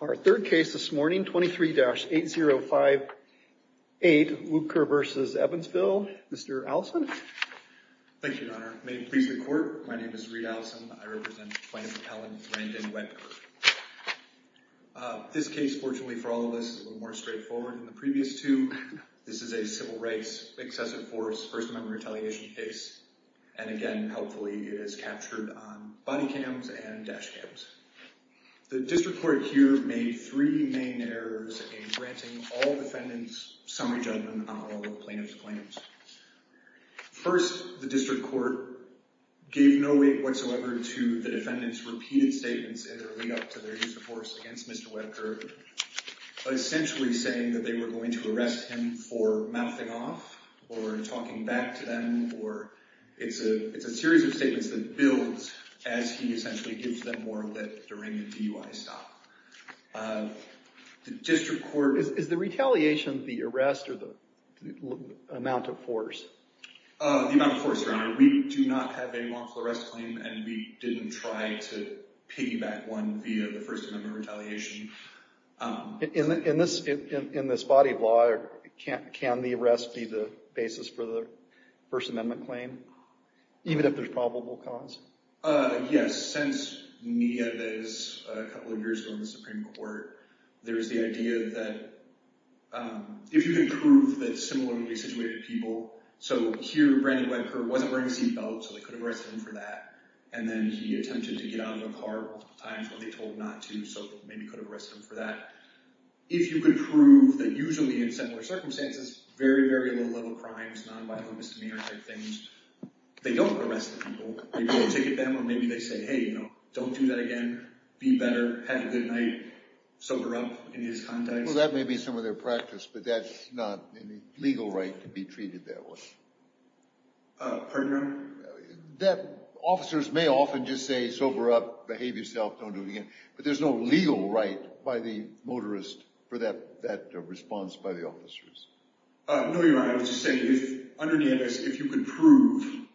Our third case this morning, 23-8058, Wuebker v. Evansville, Mr. Allison. Thank you, Your Honor. May it please the Court, my name is Reid Allison. I represent plaintiff's appellant, Brandon Wuebker. This case, fortunately for all of us, is a little more straightforward than the previous two. This is a civil rights, excessive force, First Amendment retaliation case. And again, helpfully, it is captured on body cams and dash cams. The district court here made three main errors in granting all defendants summary judgment on all of plaintiff's claims. First, the district court gave no weight whatsoever to the defendants' repeated statements in their lead-up to their use of force against Mr. Wuebker. Essentially saying that they were going to arrest him for mouthing off or talking back to them. It's a series of statements that builds as he essentially gives them more of a deranged DUI stop. Is the retaliation the arrest or the amount of force? The amount of force, Your Honor. We do not have a lawful arrest claim and we didn't try to piggyback one via the First Amendment retaliation. In this body of law, can the arrest be the basis for the First Amendment claim? Even if there's probable cause? Yes. Since media that is a couple of years ago in the Supreme Court, there is the idea that if you can prove that similarly situated people. So here, Brandon Wuebker wasn't wearing a seat belt, so they could have arrested him for that. And then he attempted to get out of the car multiple times when they told not to, so maybe could have arrested him for that. If you could prove that usually in similar circumstances, very, very low-level crimes, non-violent misdemeanor type things, they don't arrest the people. Maybe they ticket them or maybe they say, hey, you know, don't do that again. Be better. Have a good night. Sober up in his context. Well, that may be some of their practice, but that's not a legal right to be treated that way. Pardon, Your Honor? Officers may often just say, sober up, behave yourself, don't do it again. But there's no legal right by the motorist for that response by the officers. No, Your Honor. I was just saying, if underneath this, if you could prove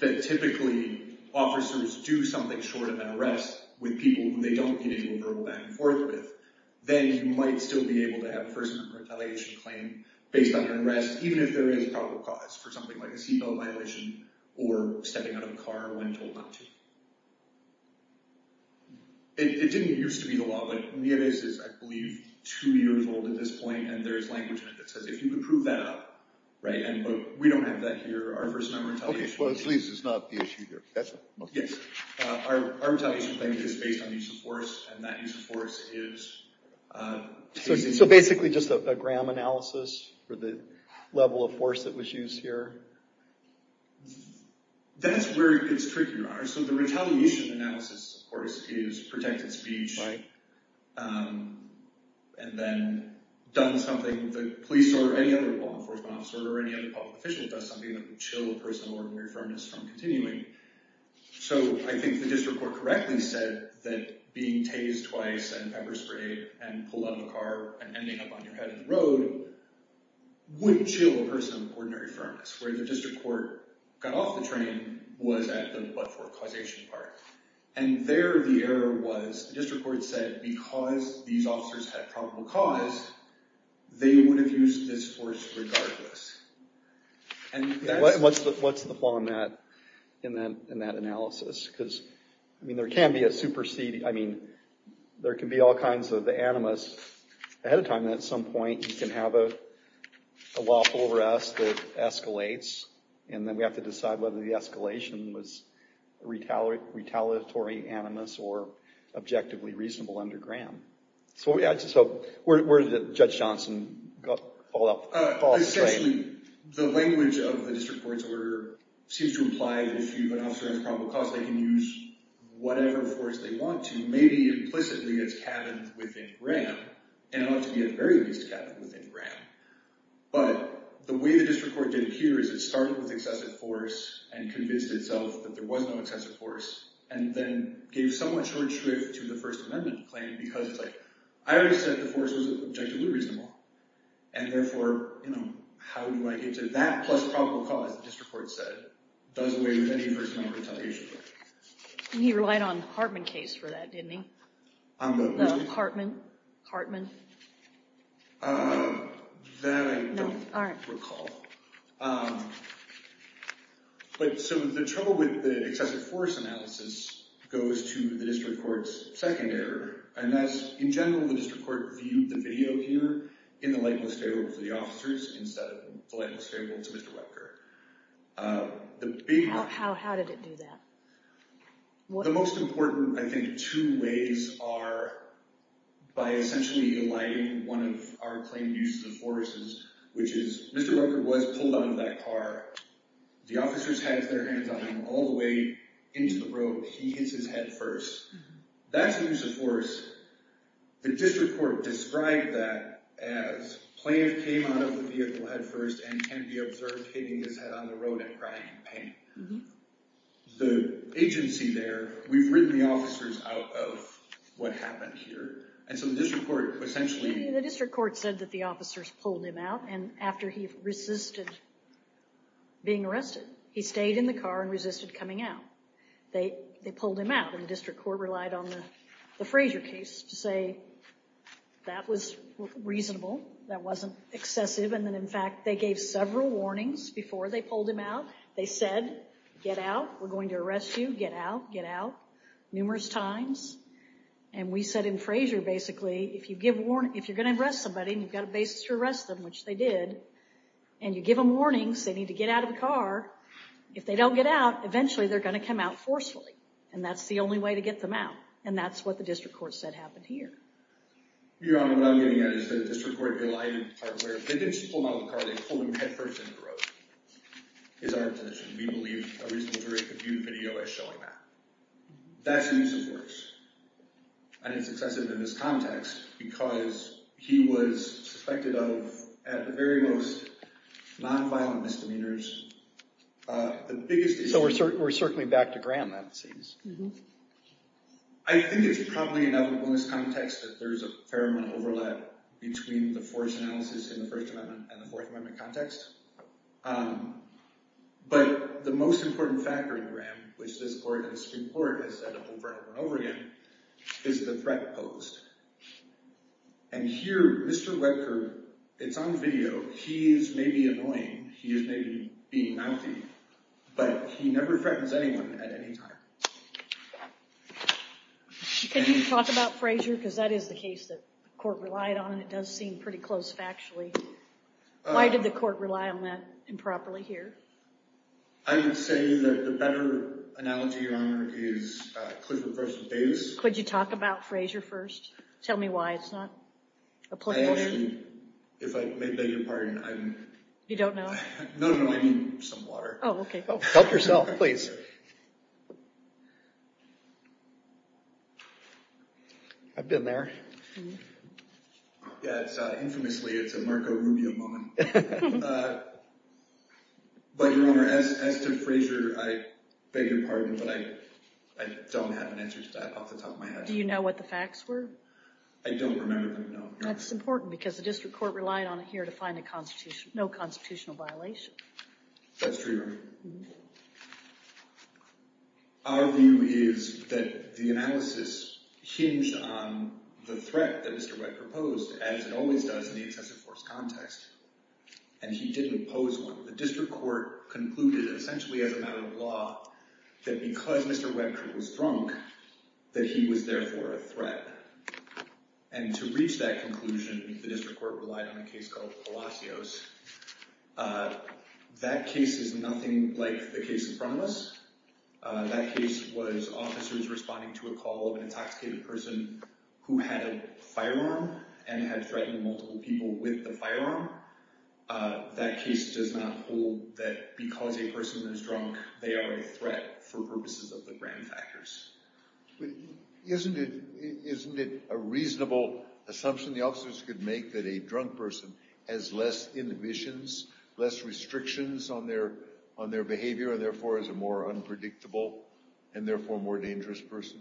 that typically officers do something short of an arrest with people who they don't get into a verbal back and forth with, then you might still be able to have a First Amendment retaliation claim based on your arrest, even if there is a probable cause for something like a seat belt violation or stepping out of a car when told not to. It didn't used to be the law, but Nieves is, I believe, two years old at this point, and there is language in it that says, if you could prove that up, right, and we don't have that here. Our First Amendment retaliation claim is based on use of force, and that use of force is... So basically just a gram analysis for the level of force that was used here? That's where it gets tricky, Your Honor. So the retaliation analysis, of course, is protected speech and then done something that police or any other law enforcement officer or any other public official does something that would chill a person of ordinary firmness from continuing. So I think the district court correctly said that being tased twice and pepper sprayed and pulled out of a car and ending up on your head in the road wouldn't chill a person of ordinary firmness, where the district court got off the train was at the but-for-causation part. And there the error was the district court said because these officers had probable cause, they would have used this force regardless. And what's the flaw in that analysis? Because, I mean, there can be a superseding... I mean, there can be all kinds of animus. Ahead of time, at some point, you can have a lawful arrest that escalates, and then we have to decide whether the escalation was retaliatory animus or objectively reasonable under gram. So where did Judge Johnson fall off the train? Essentially, the language of the district court's order seems to imply that if an officer has probable cause, they can use whatever force they want to, maybe implicitly as cabins within gram, and it ought to be at the very least cabins within gram. But the way the district court did it here is it started with excessive force and convinced itself that there was no excessive force and then gave somewhat short shrift to the First Amendment claim because it's like, I already said the force was objectively reasonable. And therefore, you know, how do I get to that plus probable cause, the district court said, does away with any First Amendment retaliation. And he relied on the Hartman case for that, didn't he? The Hartman? Hartman? That I don't recall. But so the trouble with the excessive force analysis goes to the district court's second error, and that's in general the district court viewed the video here in the light most favorable for the officers instead of the light most favorable to Mr. Webker. How did it do that? The most important, I think, two ways are by essentially eliding one of our claimed uses of forces, which is Mr. Webker was pulled out of that car. The officers had their hands on him all the way into the road. He hits his head first. That's the use of force. The district court described that as plaintiff came out of the vehicle head first and can be observed hitting his head on the road and crying in pain. The agency there, we've ridden the officers out of what happened here. And so the district court essentially... pulled him out, and after he resisted being arrested, he stayed in the car and resisted coming out. They pulled him out, and the district court relied on the Frazier case to say that was reasonable, that wasn't excessive, and that, in fact, they gave several warnings before they pulled him out. They said, get out, we're going to arrest you, get out, get out, numerous times. And we said in Frazier, basically, if you're going to arrest somebody and you've got a basis to arrest them, which they did, and you give them warnings, they need to get out of the car, if they don't get out, eventually they're going to come out forcefully, and that's the only way to get them out, and that's what the district court said happened here. Your Honor, what I'm getting at is that the district court relied on the part where they didn't just pull him out of the car, they pulled him head first into the road, is our intention. We believe a reasonable jury could view the video as showing that. That's the use of force, and it's excessive in this context, because he was suspected of, at the very most, nonviolent misdemeanors. So we're certainly back to Graham, that seems. I think it's probably enough in this context that there's a fair amount of overlap between the force analysis in the First Amendment and the Fourth Amendment context. But the most important factor in Graham, which the district court has said over and over again, is the threat posed. And here, Mr. Webker, it's on video, he is maybe annoying, he is maybe being mouthy, but he never threatens anyone at any time. Can you talk about Frazier, because that is the case that the court relied on, and it does seem pretty close factually. Why did the court rely on that improperly here? I would say that the better analogy, Your Honor, is Clifford Frasier Davis. Could you talk about Frazier first? Tell me why it's not a placeholder? I actually, if I may beg your pardon, I'm... You don't know? No, no, I mean some water. Oh, okay. Help yourself, please. I've been there. Infamously, it's a Marco Rubio moment. But, Your Honor, as to Frazier, I beg your pardon, but I don't have an answer to that off the top of my head. Do you know what the facts were? I don't remember them, no. That's important, because the district court relied on it here to find no constitutional violation. That's true, Your Honor. Our view is that the analysis hinged on the threat that Mr. Webker posed, as it always does in the excessive force context. And he didn't pose one. The district court concluded, essentially as a matter of law, that because Mr. Webker was drunk, that he was therefore a threat. And to reach that conclusion, the district court relied on a case called Palacios. That case is nothing like the case in front of us. That case was officers responding to a call of an intoxicated person who had a firearm and had threatened multiple people with the firearm. That case does not hold that because a person is drunk, they are a threat for purposes of the grand factors. Isn't it a reasonable assumption the officers could make that a drunk person has less inhibitions, less restrictions on their behavior, and therefore is a more unpredictable and therefore more dangerous person?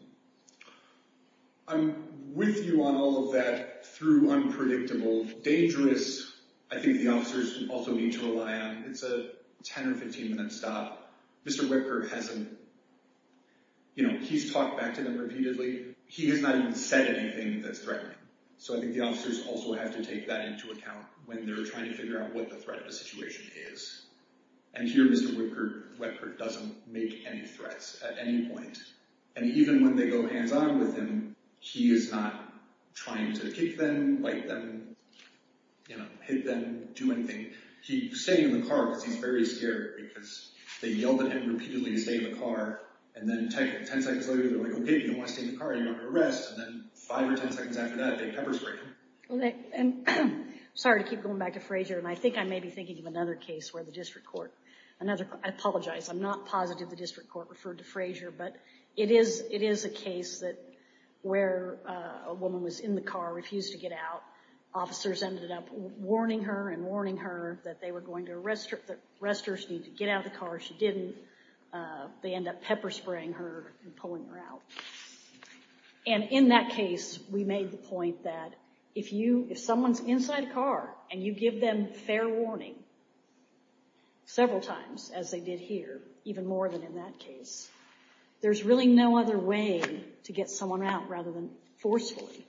I'm with you on all of that through unpredictable. Dangerous, I think the officers also need to rely on. It's a 10 or 15 minute stop. Mr. Webker hasn't, you know, he's talked back to them repeatedly. He has not even said anything that's threatening. So I think the officers also have to take that into account when they're trying to figure out what the threat of the situation is. And here Mr. Webker doesn't make any threats at any point. And even when they go hands on with him, he is not trying to kick them, bite them, you know, hit them, do anything. He's staying in the car because he's very scared because they yelled at him repeatedly to stay in the car. And then 10 seconds later, they're like, okay, you don't want to stay in the car, you're under arrest. And then five or 10 seconds after that, they pepper spray him. Sorry to keep going back to Frazier, and I think I may be thinking of another case where the district court, I apologize, I'm not positive the district court referred to Frazier, but it is a case that where a woman was in the car, refused to get out. Officers ended up warning her and warning her that they were going to arrest her, that arresters need to get out of the car. She didn't. They end up pepper spraying her and pulling her out. And in that case, we made the point that if someone's inside a car and you give them fair warning several times, as they did here, even more than in that case, there's really no other way to get someone out rather than forcefully.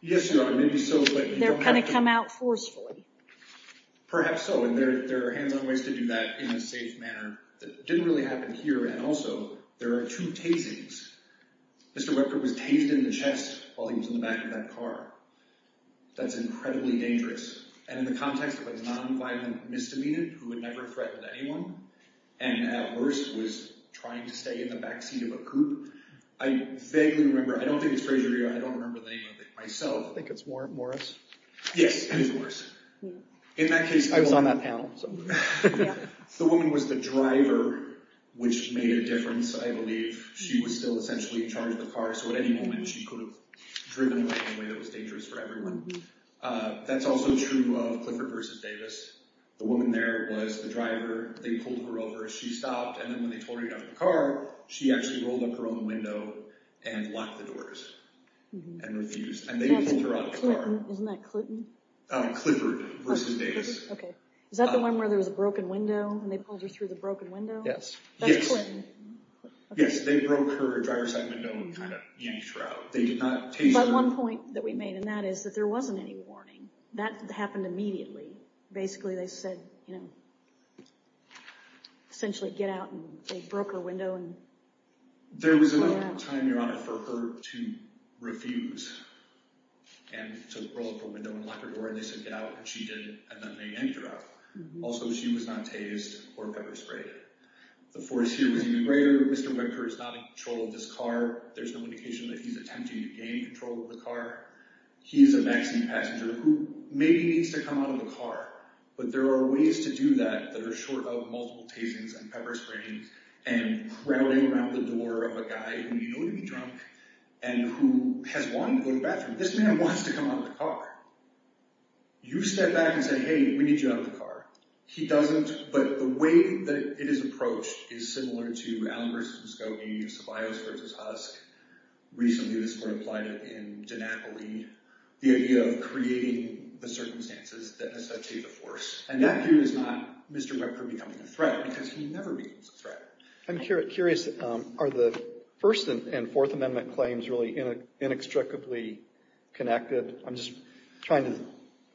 Yes, there are. They're going to come out forcefully. Perhaps so, and there are hands-on ways to do that in a safe manner. It didn't really happen here. And also, there are two tasings. Mr. Webker was tased in the chest while he was in the back of that car. That's incredibly dangerous. And in the context of a nonviolent misdemeanor who would never threaten anyone, and at worst was trying to stay in the back seat of a coupe, I vaguely remember, I don't think it's Frazier, I don't remember the name of it myself. I think it's Morris. Yes, it is Morris. I was on that panel. The woman was the driver, which made a difference, I believe. She was still essentially in charge of the car, so at any moment she could have driven away in a way that was dangerous for everyone. That's also true of Clifford v. Davis. The woman there was the driver. They pulled her over. She stopped, and then when they told her to get out of the car, she actually rolled up her own window and locked the doors and refused. And they pulled her out of the car. Isn't that Clinton? Clifford v. Davis. Okay. Is that the one where there was a broken window, and they pulled her through the broken window? Yes. That's Clinton. Yes, they broke her driver's side window and kind of yanked her out. They did not tase her. But one point that we made in that is that there wasn't any warning. That happened immediately. Basically, they said, you know, essentially get out, and they broke her window. There was enough time, Your Honor, for her to refuse and to roll up her window and lock her door, and they said get out, and she did, and then they yanked her out. Also, she was not tased or ever sprayed. The force here was even greater. Mr. Webker is not in control of this car. There's no indication that he's attempting to gain control of the car. He's a vaccine passenger who maybe needs to come out of the car, but there are ways to do that that are short of multiple tasings and pepper sprayings and crowding around the door of a guy who you know to be drunk and who has wanted to go to the bathroom. This man wants to come out of the car. You step back and say, hey, we need you out of the car. He doesn't, but the way that it is approached is similar to Allen v. Muscovy, Ceballos v. Husk. Recently, this court applied it in Gennapoli, the idea of creating the circumstances that has such a force, and that here is not Mr. Webker becoming a threat because he never becomes a threat. I'm curious. Are the First and Fourth Amendment claims really inextricably connected? I'm just trying to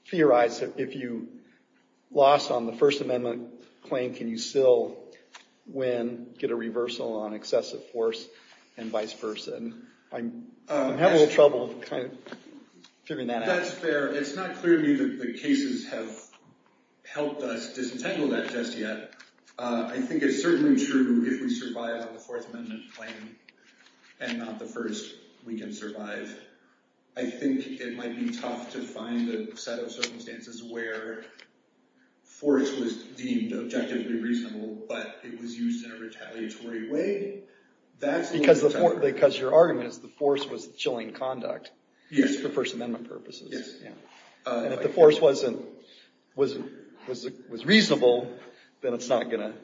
theorize that if you lost on the First Amendment claim, can you still win, get a reversal on excessive force, and vice versa? I'm having a little trouble figuring that out. That's fair. It's not clear to me that the cases have helped us disentangle that just yet. I think it's certainly true if we survive on the Fourth Amendment claim and not the first, we can survive. I think it might be tough to find a set of circumstances where force was deemed objectively reasonable, but it was used in a retaliatory way. Because your argument is the force was chilling conduct for First Amendment purposes. Yes. And if the force was reasonable, then it's not going to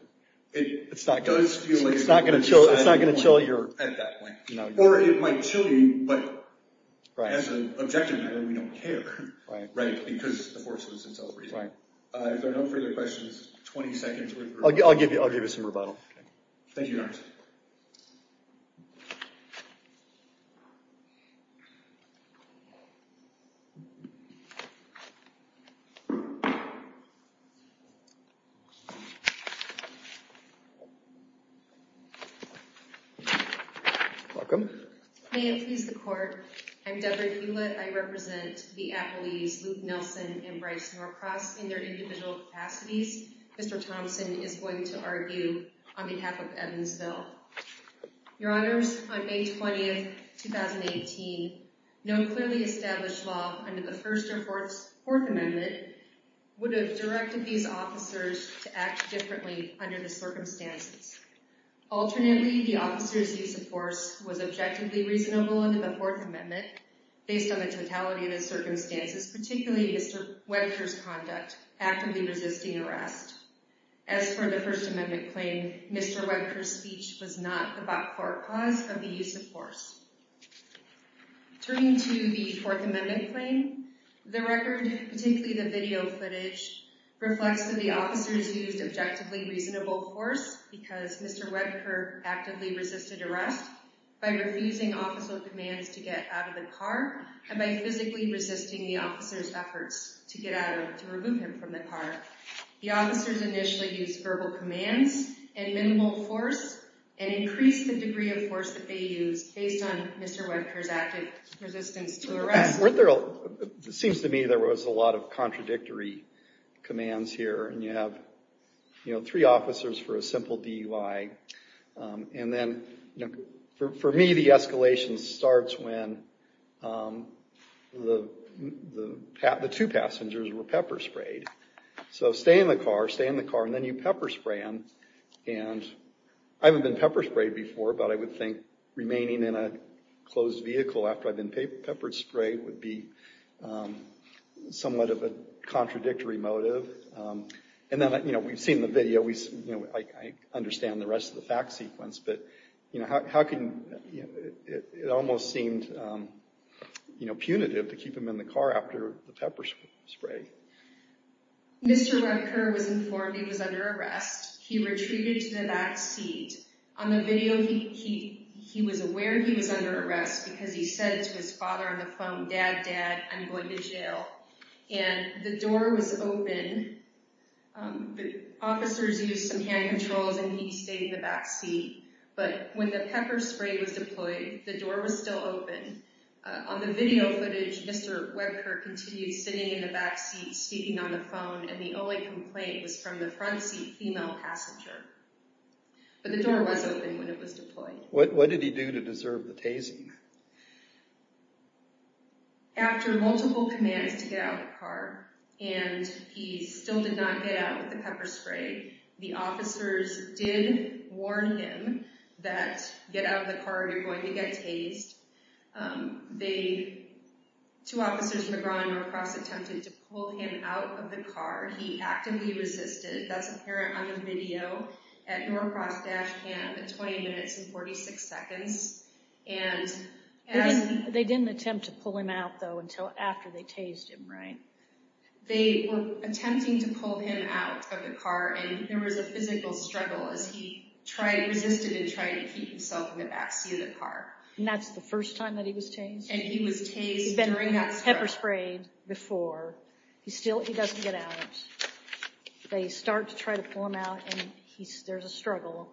chill your... At that point. Or it might chill you, but as an objective matter, we don't care. Right, because the force was itself reasonable. Right. If there are no further questions, 20 seconds worth of rebuttal. I'll give you some rebuttal. Thank you, Your Honor. Welcome. May it please the Court, I'm Debra Hewlett. I represent the appellees Luke Nelson and Bryce Norcross in their individual capacities. Mr. Thompson is going to argue on behalf of Evansville. Your Honors, on May 20th, 2018, no clearly established law under the First or Fourth Amendment would have directed these officers to act differently under the circumstances. Alternately, the officers' use of force was objectively reasonable under the Fourth Amendment based on the totality of the circumstances, particularly Mr. Webker's conduct, actively resisting arrest. As for the First Amendment claim, Mr. Webker's speech was not the back-court cause of the use of force. Turning to the Fourth Amendment claim, the record, particularly the video footage, reflects that the officers used objectively reasonable force because Mr. Webker actively resisted arrest by refusing official commands to get out of the car and by physically resisting the officers' efforts to get out or to remove him from the car. The officers initially used verbal commands and minimal force and increased the degree of force that they used based on Mr. Webker's active resistance to arrest. Seems to me there was a lot of contradictory commands here, and you have three officers for a simple DUI, and then, for me, the escalation starts when the two passengers were pepper-sprayed. So stay in the car, stay in the car, and then you pepper-spray them. And I haven't been pepper-sprayed before, but I would think remaining in a closed vehicle after I've been pepper-sprayed would be somewhat of a contradictory motive. We've seen the video. I understand the rest of the fact sequence, but it almost seemed punitive to keep him in the car after the pepper-spray. Mr. Webker was informed he was under arrest. He retreated to the back seat. On the video, he was aware he was under arrest because he said to his father on the phone, Dad, Dad, I'm going to jail. And the door was open. The officers used some hand controls, and he stayed in the back seat. But when the pepper-spray was deployed, the door was still open. On the video footage, Mr. Webker continued sitting in the back seat, speaking on the phone, and the only complaint was from the front seat female passenger. But the door was open when it was deployed. What did he do to deserve the tasing? After multiple commands to get out of the car, and he still did not get out with the pepper-spray, the officers did warn him that get out of the car or you're going to get tased. Two officers from the Grand North Cross attempted to pull him out of the car. He actively resisted. That's apparent on the video at North Cross Dash Camp at 20 minutes and 46 seconds. They didn't attempt to pull him out, though, until after they tased him, right? They were attempting to pull him out of the car, and there was a physical struggle as he resisted and tried to keep himself in the back seat of the car. And that's the first time that he was tased? And he was tased during that struggle. He'd been pepper-sprayed before. Still, he doesn't get out. They start to try to pull him out, and there's a struggle,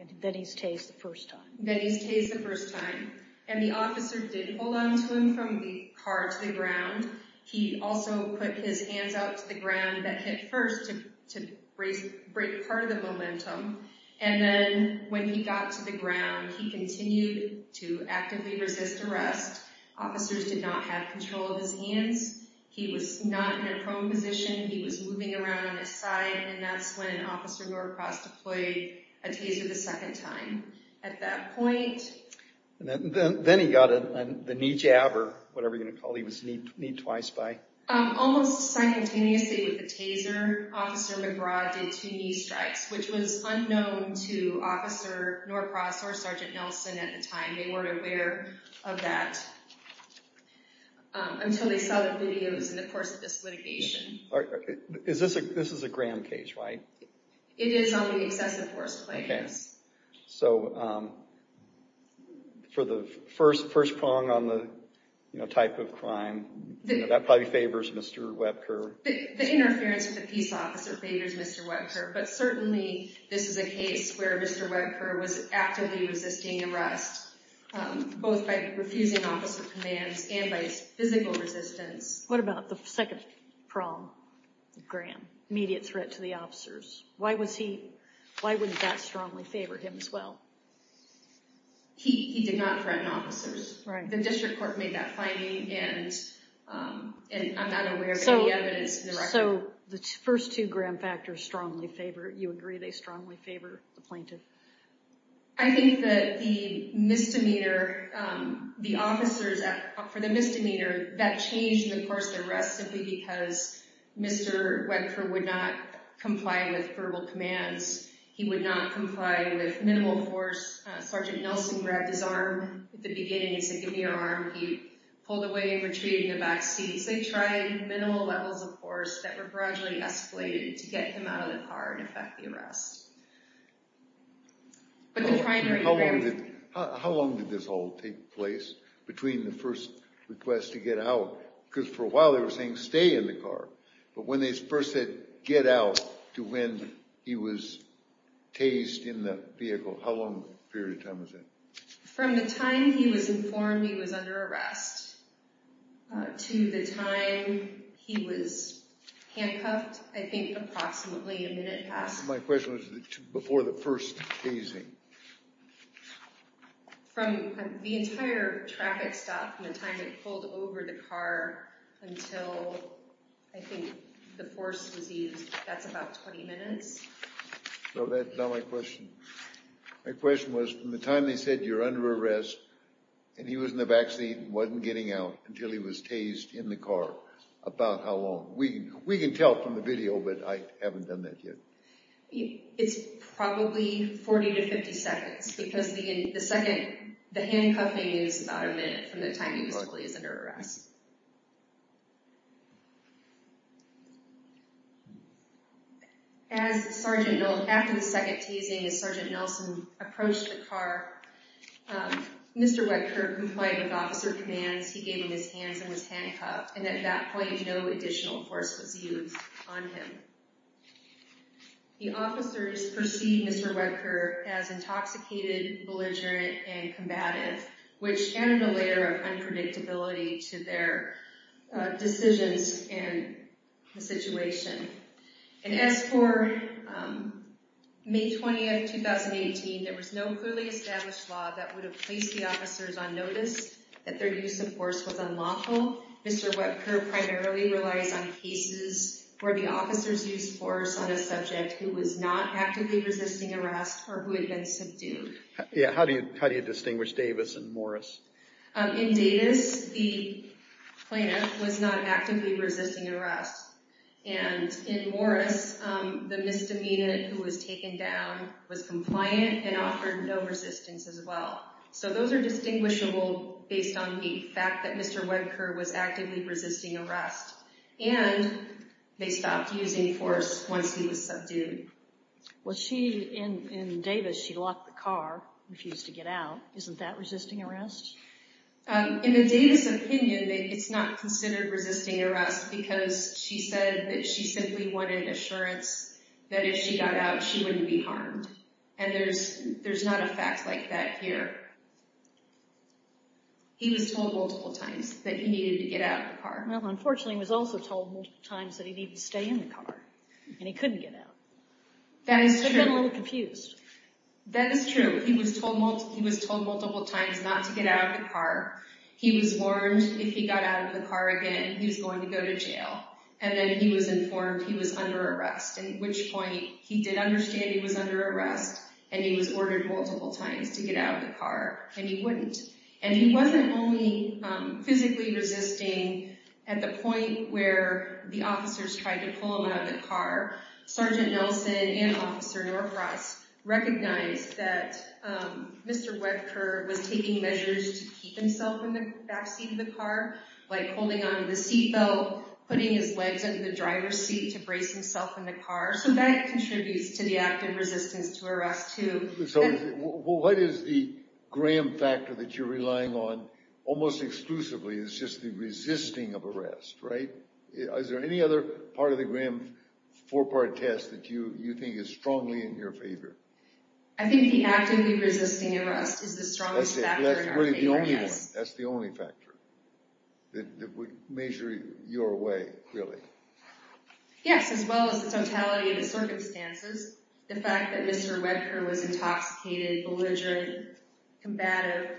and then he's tased the first time. Then he's tased the first time, and the officers did hold on to him from the car to the ground. He also put his hands out to the ground that hit first to break part of the momentum, and then when he got to the ground, he continued to actively resist arrest. Officers did not have control of his hands. He was not in a prone position. He was moving around on his side, and that's when Officer Norcross deployed a taser the second time. At that point... Then he got the knee jab or whatever you're going to call it. He was kneed twice by... Almost simultaneously with the taser, Officer McBride did two knee strikes, which was unknown to Officer Norcross or Sergeant Nelson at the time. They weren't aware of that until they saw the videos in the course of this litigation. This is a Graham case, right? It is on the excessive force plaintiffs. So for the first prong on the type of crime, that probably favors Mr. Webker. The interference of the peace officer favors Mr. Webker, but certainly this is a case where Mr. Webker was actively resisting arrest, both by refusing officer commands and by his physical resistance. What about the second prong, Graham? Immediate threat to the officers. Why would that strongly favor him as well? He did not threaten officers. The district court made that finding, and I'm not aware of any evidence in the record. So the first two Graham factors strongly favor... You agree they strongly favor the plaintiff? I think that the misdemeanor, the officers for the misdemeanor, that changed the course of the arrest simply because Mr. Webker would not comply with verbal commands. He would not comply with minimal force. Sergeant Nelson grabbed his arm at the beginning and said, give me your arm. He pulled away and retreated in the back seat. So they tried minimal levels of force that were gradually escalated to get him out of the car and effect the arrest. How long did this all take place between the first request to get out? Because for a while they were saying stay in the car. But when they first said get out to when he was tased in the vehicle, how long a period of time was that? From the time he was informed he was under arrest to the time he was handcuffed, I think approximately a minute past. My question was before the first tasing. From the entire traffic stop from the time they pulled over the car until I think the force was used, that's about 20 minutes. So that's not my question. My question was from the time they said you're under arrest and he was in the back seat and wasn't getting out until he was tased in the car, about how long? We can tell from the video, but I haven't done that yet. It's probably 40 to 50 seconds. Because the second, the handcuffing is about a minute from the time he was told he was under arrest. After the second tasing, as Sergeant Nelson approached the car, Mr. Weckert complied with officer commands. He gave him his hands and was handcuffed. And at that point, no additional force was used on him. The officers perceived Mr. Weckert as intoxicated, belligerent, and combative, which added a layer of unpredictability to their decisions and the situation. And as for May 20, 2018, there was no clearly established law that would have placed the officers on notice that their use of force was unlawful. Mr. Weckert primarily relies on cases where the officers used force on a subject who was not actively resisting arrest or who had been subdued. Yeah, how do you distinguish Davis and Morris? In Davis, the plaintiff was not actively resisting arrest. And in Morris, the misdemeanor who was taken down was compliant and offered no resistance as well. So those are distinguishable based on the fact that Mr. Weckert was actively resisting arrest. And they stopped using force once he was subdued. Well, she, in Davis, she locked the car, refused to get out. Isn't that resisting arrest? In the Davis opinion, it's not considered resisting arrest because she said that she simply wanted assurance that if she got out, she wouldn't be harmed. And there's not a fact like that here. He was told multiple times that he needed to get out of the car. Well, unfortunately, he was also told multiple times that he needed to stay in the car, and he couldn't get out. That is true. He was a little confused. That is true. He was told multiple times not to get out of the car. He was warned if he got out of the car again, he was going to go to jail. And then he was informed he was under arrest, at which point he did understand he was under arrest, and he was ordered multiple times to get out of the car, and he wouldn't. And he wasn't only physically resisting at the point where the officers tried to pull him out of the car. Sergeant Nelson and Officer Norcross recognized that Mr. Webker was taking measures to keep himself in the backseat of the car, like holding on to the seatbelt, putting his legs under the driver's seat to brace himself in the car. So that contributes to the active resistance to arrest, too. So what is the Graham factor that you're relying on almost exclusively? It's just the resisting of arrest, right? Is there any other part of the Graham four-part test that you think is strongly in your favor? I think the actively resisting arrest is the strongest factor in our favor, yes. That's really the only one. That's the only factor that would measure your way, really. Yes, as well as the totality of the circumstances. The fact that Mr. Webker was intoxicated, belligerent, combative.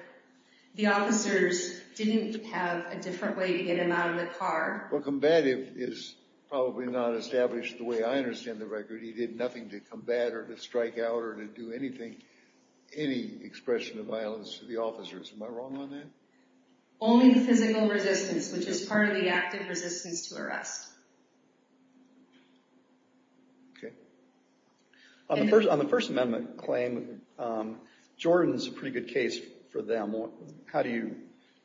The officers didn't have a different way to get him out of the car. Well, combative is probably not established the way I understand the record. He did nothing to combat or to strike out or to do anything, any expression of violence to the officers. Am I wrong on that? Only physical resistance, which is part of the active resistance to arrest. On the First Amendment claim, Jordan is a pretty good case for them. How do you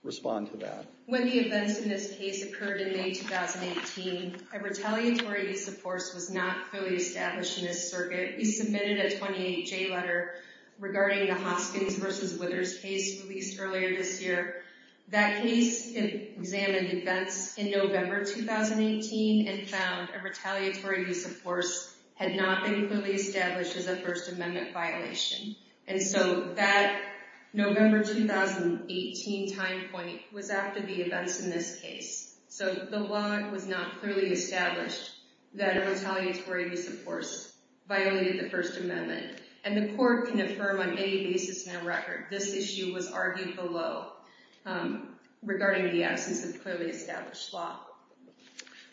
respond to that? When the events in this case occurred in May 2018, a retaliatory use of force was not fully established in this circuit. We submitted a 28-J letter regarding the Hoskins v. Withers case released earlier this year. That case examined events in November 2018 and found a retaliatory use of force had not been clearly established as a First Amendment violation. That November 2018 time point was after the events in this case. The law was not clearly established that a retaliatory use of force violated the First Amendment. The court can affirm on any basis in the record this issue was argued below regarding the absence of clearly established law.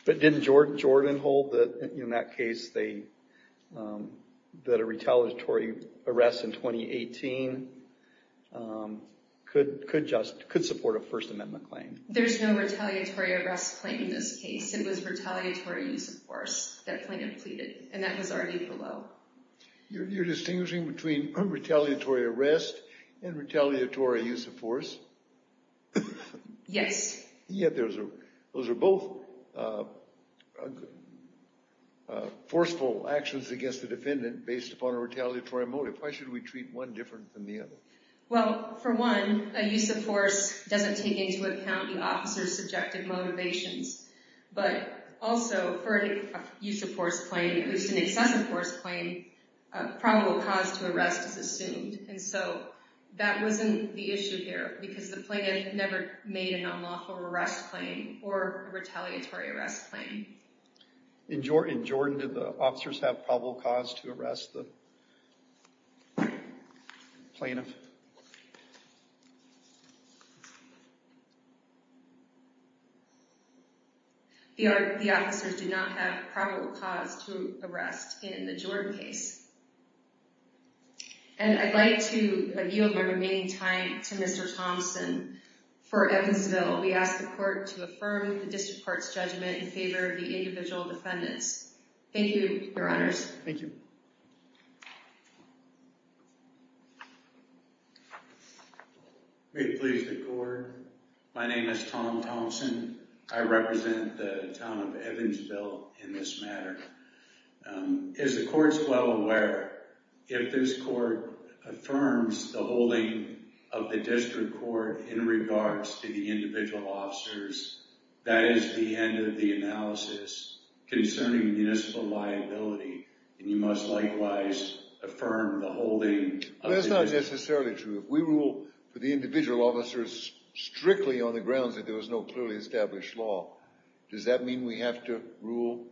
But didn't Jordan hold that in that case that a retaliatory arrest in 2018 could support a First Amendment claim? There's no retaliatory arrest claim in this case. It was retaliatory use of force that plaintiff pleaded, and that was argued below. You're distinguishing between retaliatory arrest and retaliatory use of force? Yes. Yet those are both forceful actions against the defendant based upon a retaliatory motive. Why should we treat one different than the other? Well, for one, a use of force doesn't take into account the officer's subjective motivations. But also, for a use of force claim, at least an excessive force claim, a probable cause to arrest is assumed. And so that wasn't the issue here, because the plaintiff never made an unlawful arrest claim or retaliatory arrest claim. In Jordan, did the officers have probable cause to arrest the plaintiff? The officers do not have probable cause to arrest in the Jordan case. And I'd like to yield my remaining time to Mr. Thompson for Evansville. We ask the court to affirm the district court's judgment in favor of the individual defendants. Thank you, your honors. Thank you. May it please the court. My name is Tom Thompson. I represent the town of Evansville in this matter. Is the courts well aware, if this court affirms the holding of the district court in regards to the individual officers, that is the end of the analysis concerning municipal liability. And you must likewise affirm the holding of the district court. That's not necessarily true. If we rule for the individual officers strictly on the grounds that there was no clearly established law, does that mean we have to rule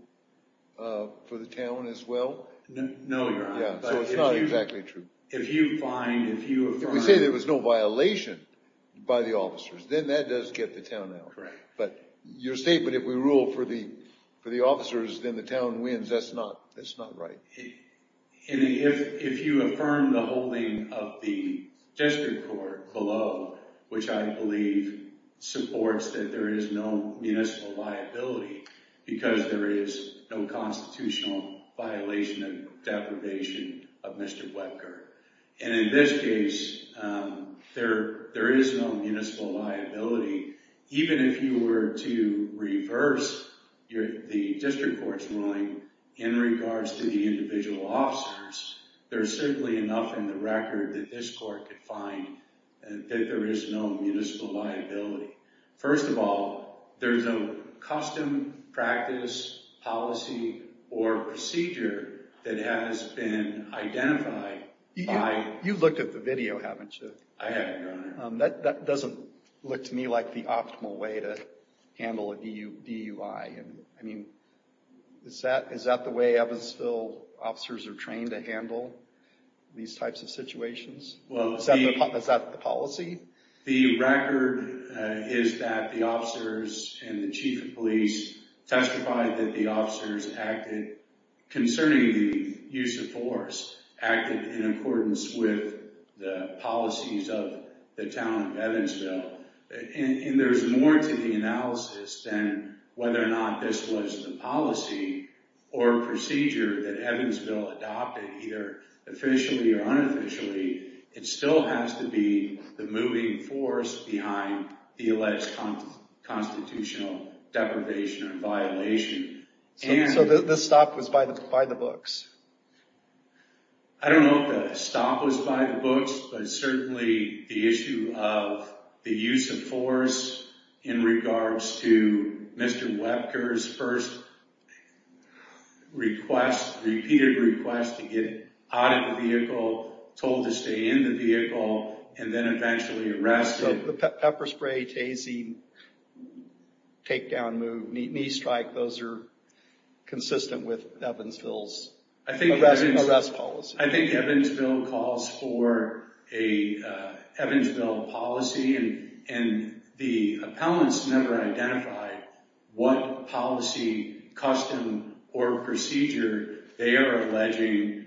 for the town as well? No, your honor. Yeah, so it's not exactly true. If you find, if you affirm. If we say there was no violation by the officers, then that does get the town out. Correct. But your statement, if we rule for the officers, then the town wins, that's not right. And if you affirm the holding of the district court below, which I believe supports that there is no municipal liability, because there is no constitutional violation of deprivation of Mr. Webker. And in this case, there is no municipal liability. Even if you were to reverse the district court's ruling in regards to the individual officers, there's simply enough in the record that this court could find that there is no municipal liability. First of all, there's a custom, practice, policy, or procedure that has been identified by. You've looked at the video, haven't you? I have, your honor. That doesn't look to me like the optimal way to handle a DUI. I mean, is that the way Evansville officers are trained to handle these types of situations? Is that the policy? The record is that the officers and the chief of police testified that the officers acted concerning the use of force, acted in accordance with the policies of the town of Evansville. And there's more to the analysis than whether or not this was the policy It still has to be the moving force behind the alleged constitutional deprivation and violation. So the stop was by the books? I don't know if the stop was by the books, but certainly the issue of the use of force in regards to Mr. Webker's first repeated request to get out of the vehicle, told to stay in the vehicle, and then eventually arrested. The pepper spray, tasing, takedown move, knee strike, those are consistent with Evansville's arrest policy. I think Evansville calls for an Evansville policy, and the appellants never identified what policy, custom, or procedure they are alleging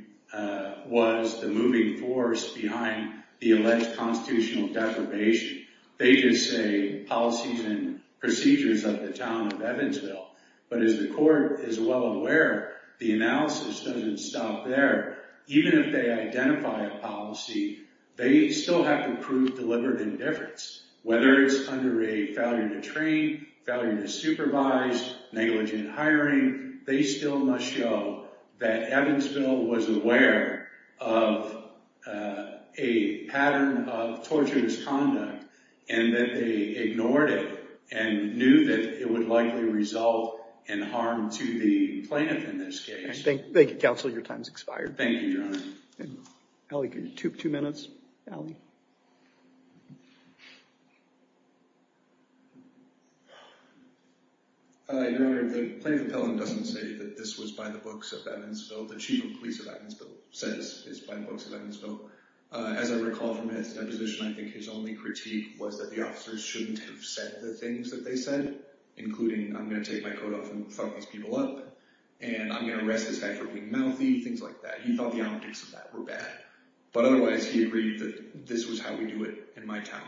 was the moving force behind the alleged constitutional deprivation. They just say policies and procedures of the town of Evansville. But as the court is well aware, the analysis doesn't stop there. Even if they identify a policy, they still have to prove deliberate indifference, whether it's under a failure to train, failure to supervise, negligent hiring, they still must show that Evansville was aware of a pattern of torturous conduct and that they ignored it and knew that it would likely result in harm to the plaintiff in this case. Thank you, counsel. Thank you, Your Honor. Ali, two minutes. Your Honor, the plaintiff appellant doesn't say that this was by the books of Evansville. The chief of police of Evansville says it's by the books of Evansville. As I recall from his deposition, I think his only critique was that the officers shouldn't have said the things that they said, including, I'm going to take my coat off and fuck these people up, and I'm going to arrest this guy for being mouthy, things like that. He thought the optics of that were bad. But otherwise, he agreed that this was how we do it in my town.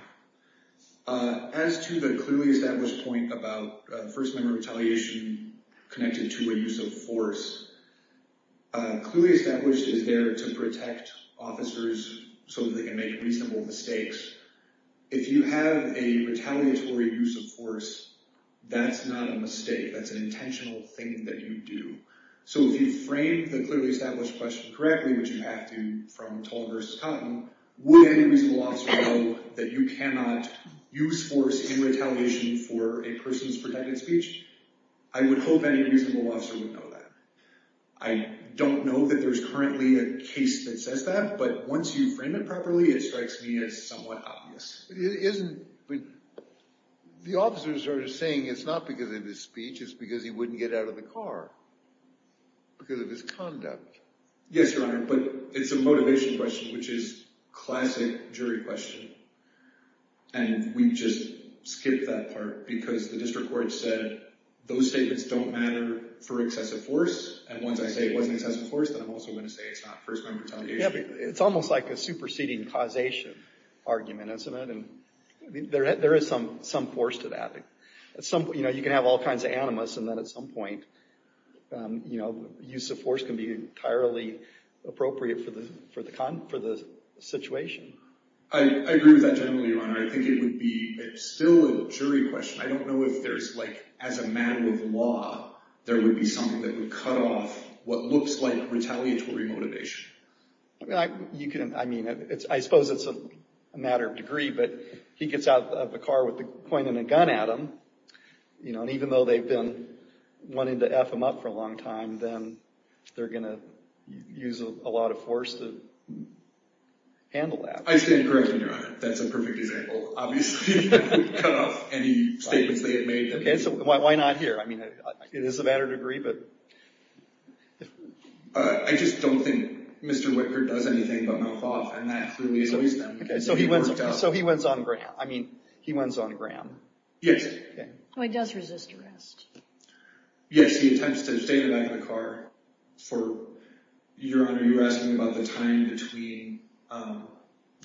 As to the clearly established point about first-member retaliation connected to a use of force, clearly established is there to protect officers so that they can make reasonable mistakes. If you have a retaliatory use of force, that's not a mistake. That's an intentional thing that you do. So if you frame the clearly established question correctly, which you have to from Tolan v. Cotton, would any reasonable officer know that you cannot use force in retaliation for a person's protected speech? I would hope any reasonable officer would know that. I don't know that there's currently a case that says that, but once you frame it properly, it strikes me as somewhat obvious. The officers are saying it's not because of his speech, it's because he wouldn't get out of the car. Because of his conduct. Yes, Your Honor. But it's a motivation question, which is a classic jury question. And we just skip that part because the district court said those statements don't matter for excessive force. And once I say it wasn't excessive force, then I'm also going to say it's not first-member retaliation. It's almost like a superseding causation argument, isn't it? There is some force to that. You can have all kinds of animus, and then at some point, use of force can be entirely appropriate for the situation. I agree with that generally, Your Honor. I think it would be still a jury question. I don't know if there's, like, as a matter of law, there would be something that would cut off what looks like retaliatory motivation. I mean, I suppose it's a matter of degree, but he gets out of the car with a coin and a gun at him, and even though they've been wanting to F him up for a long time, then they're going to use a lot of force to handle that. I stand corrected, Your Honor. That's a perfect example. Obviously, it would cut off any statements they had made. Why not here? I mean, it is a matter of degree, but... I just don't think Mr. Whitgert does anything but mouth off, and that clearly annoys them. So he wins on Graham. I mean, he wins on Graham. Yes. Oh, he does resist arrest. Yes, he attempts to stay in the back of the car for... Your Honor, you're asking about the time between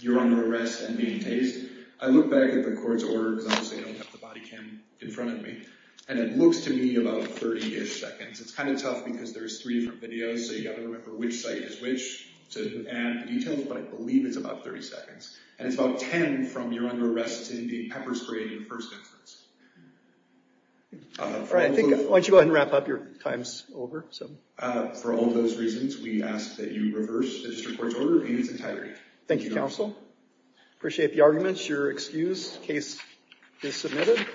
your under arrest and being tased. I look back at the court's order, because obviously I don't have the body cam in front of me, and it looks to me about 30-ish seconds. It's kind of tough because there's three different videos, so you've got to remember which site is which to add the details, but I believe it's about 30 seconds. And it's about 10 from your under arrest to being pepper sprayed in first instance. All right. Why don't you go ahead and wrap up? Your time's over. For all those reasons, we ask that you reverse the district court's order in its entirety. Thank you, counsel. Appreciate the arguments. You're excused. Case is submitted.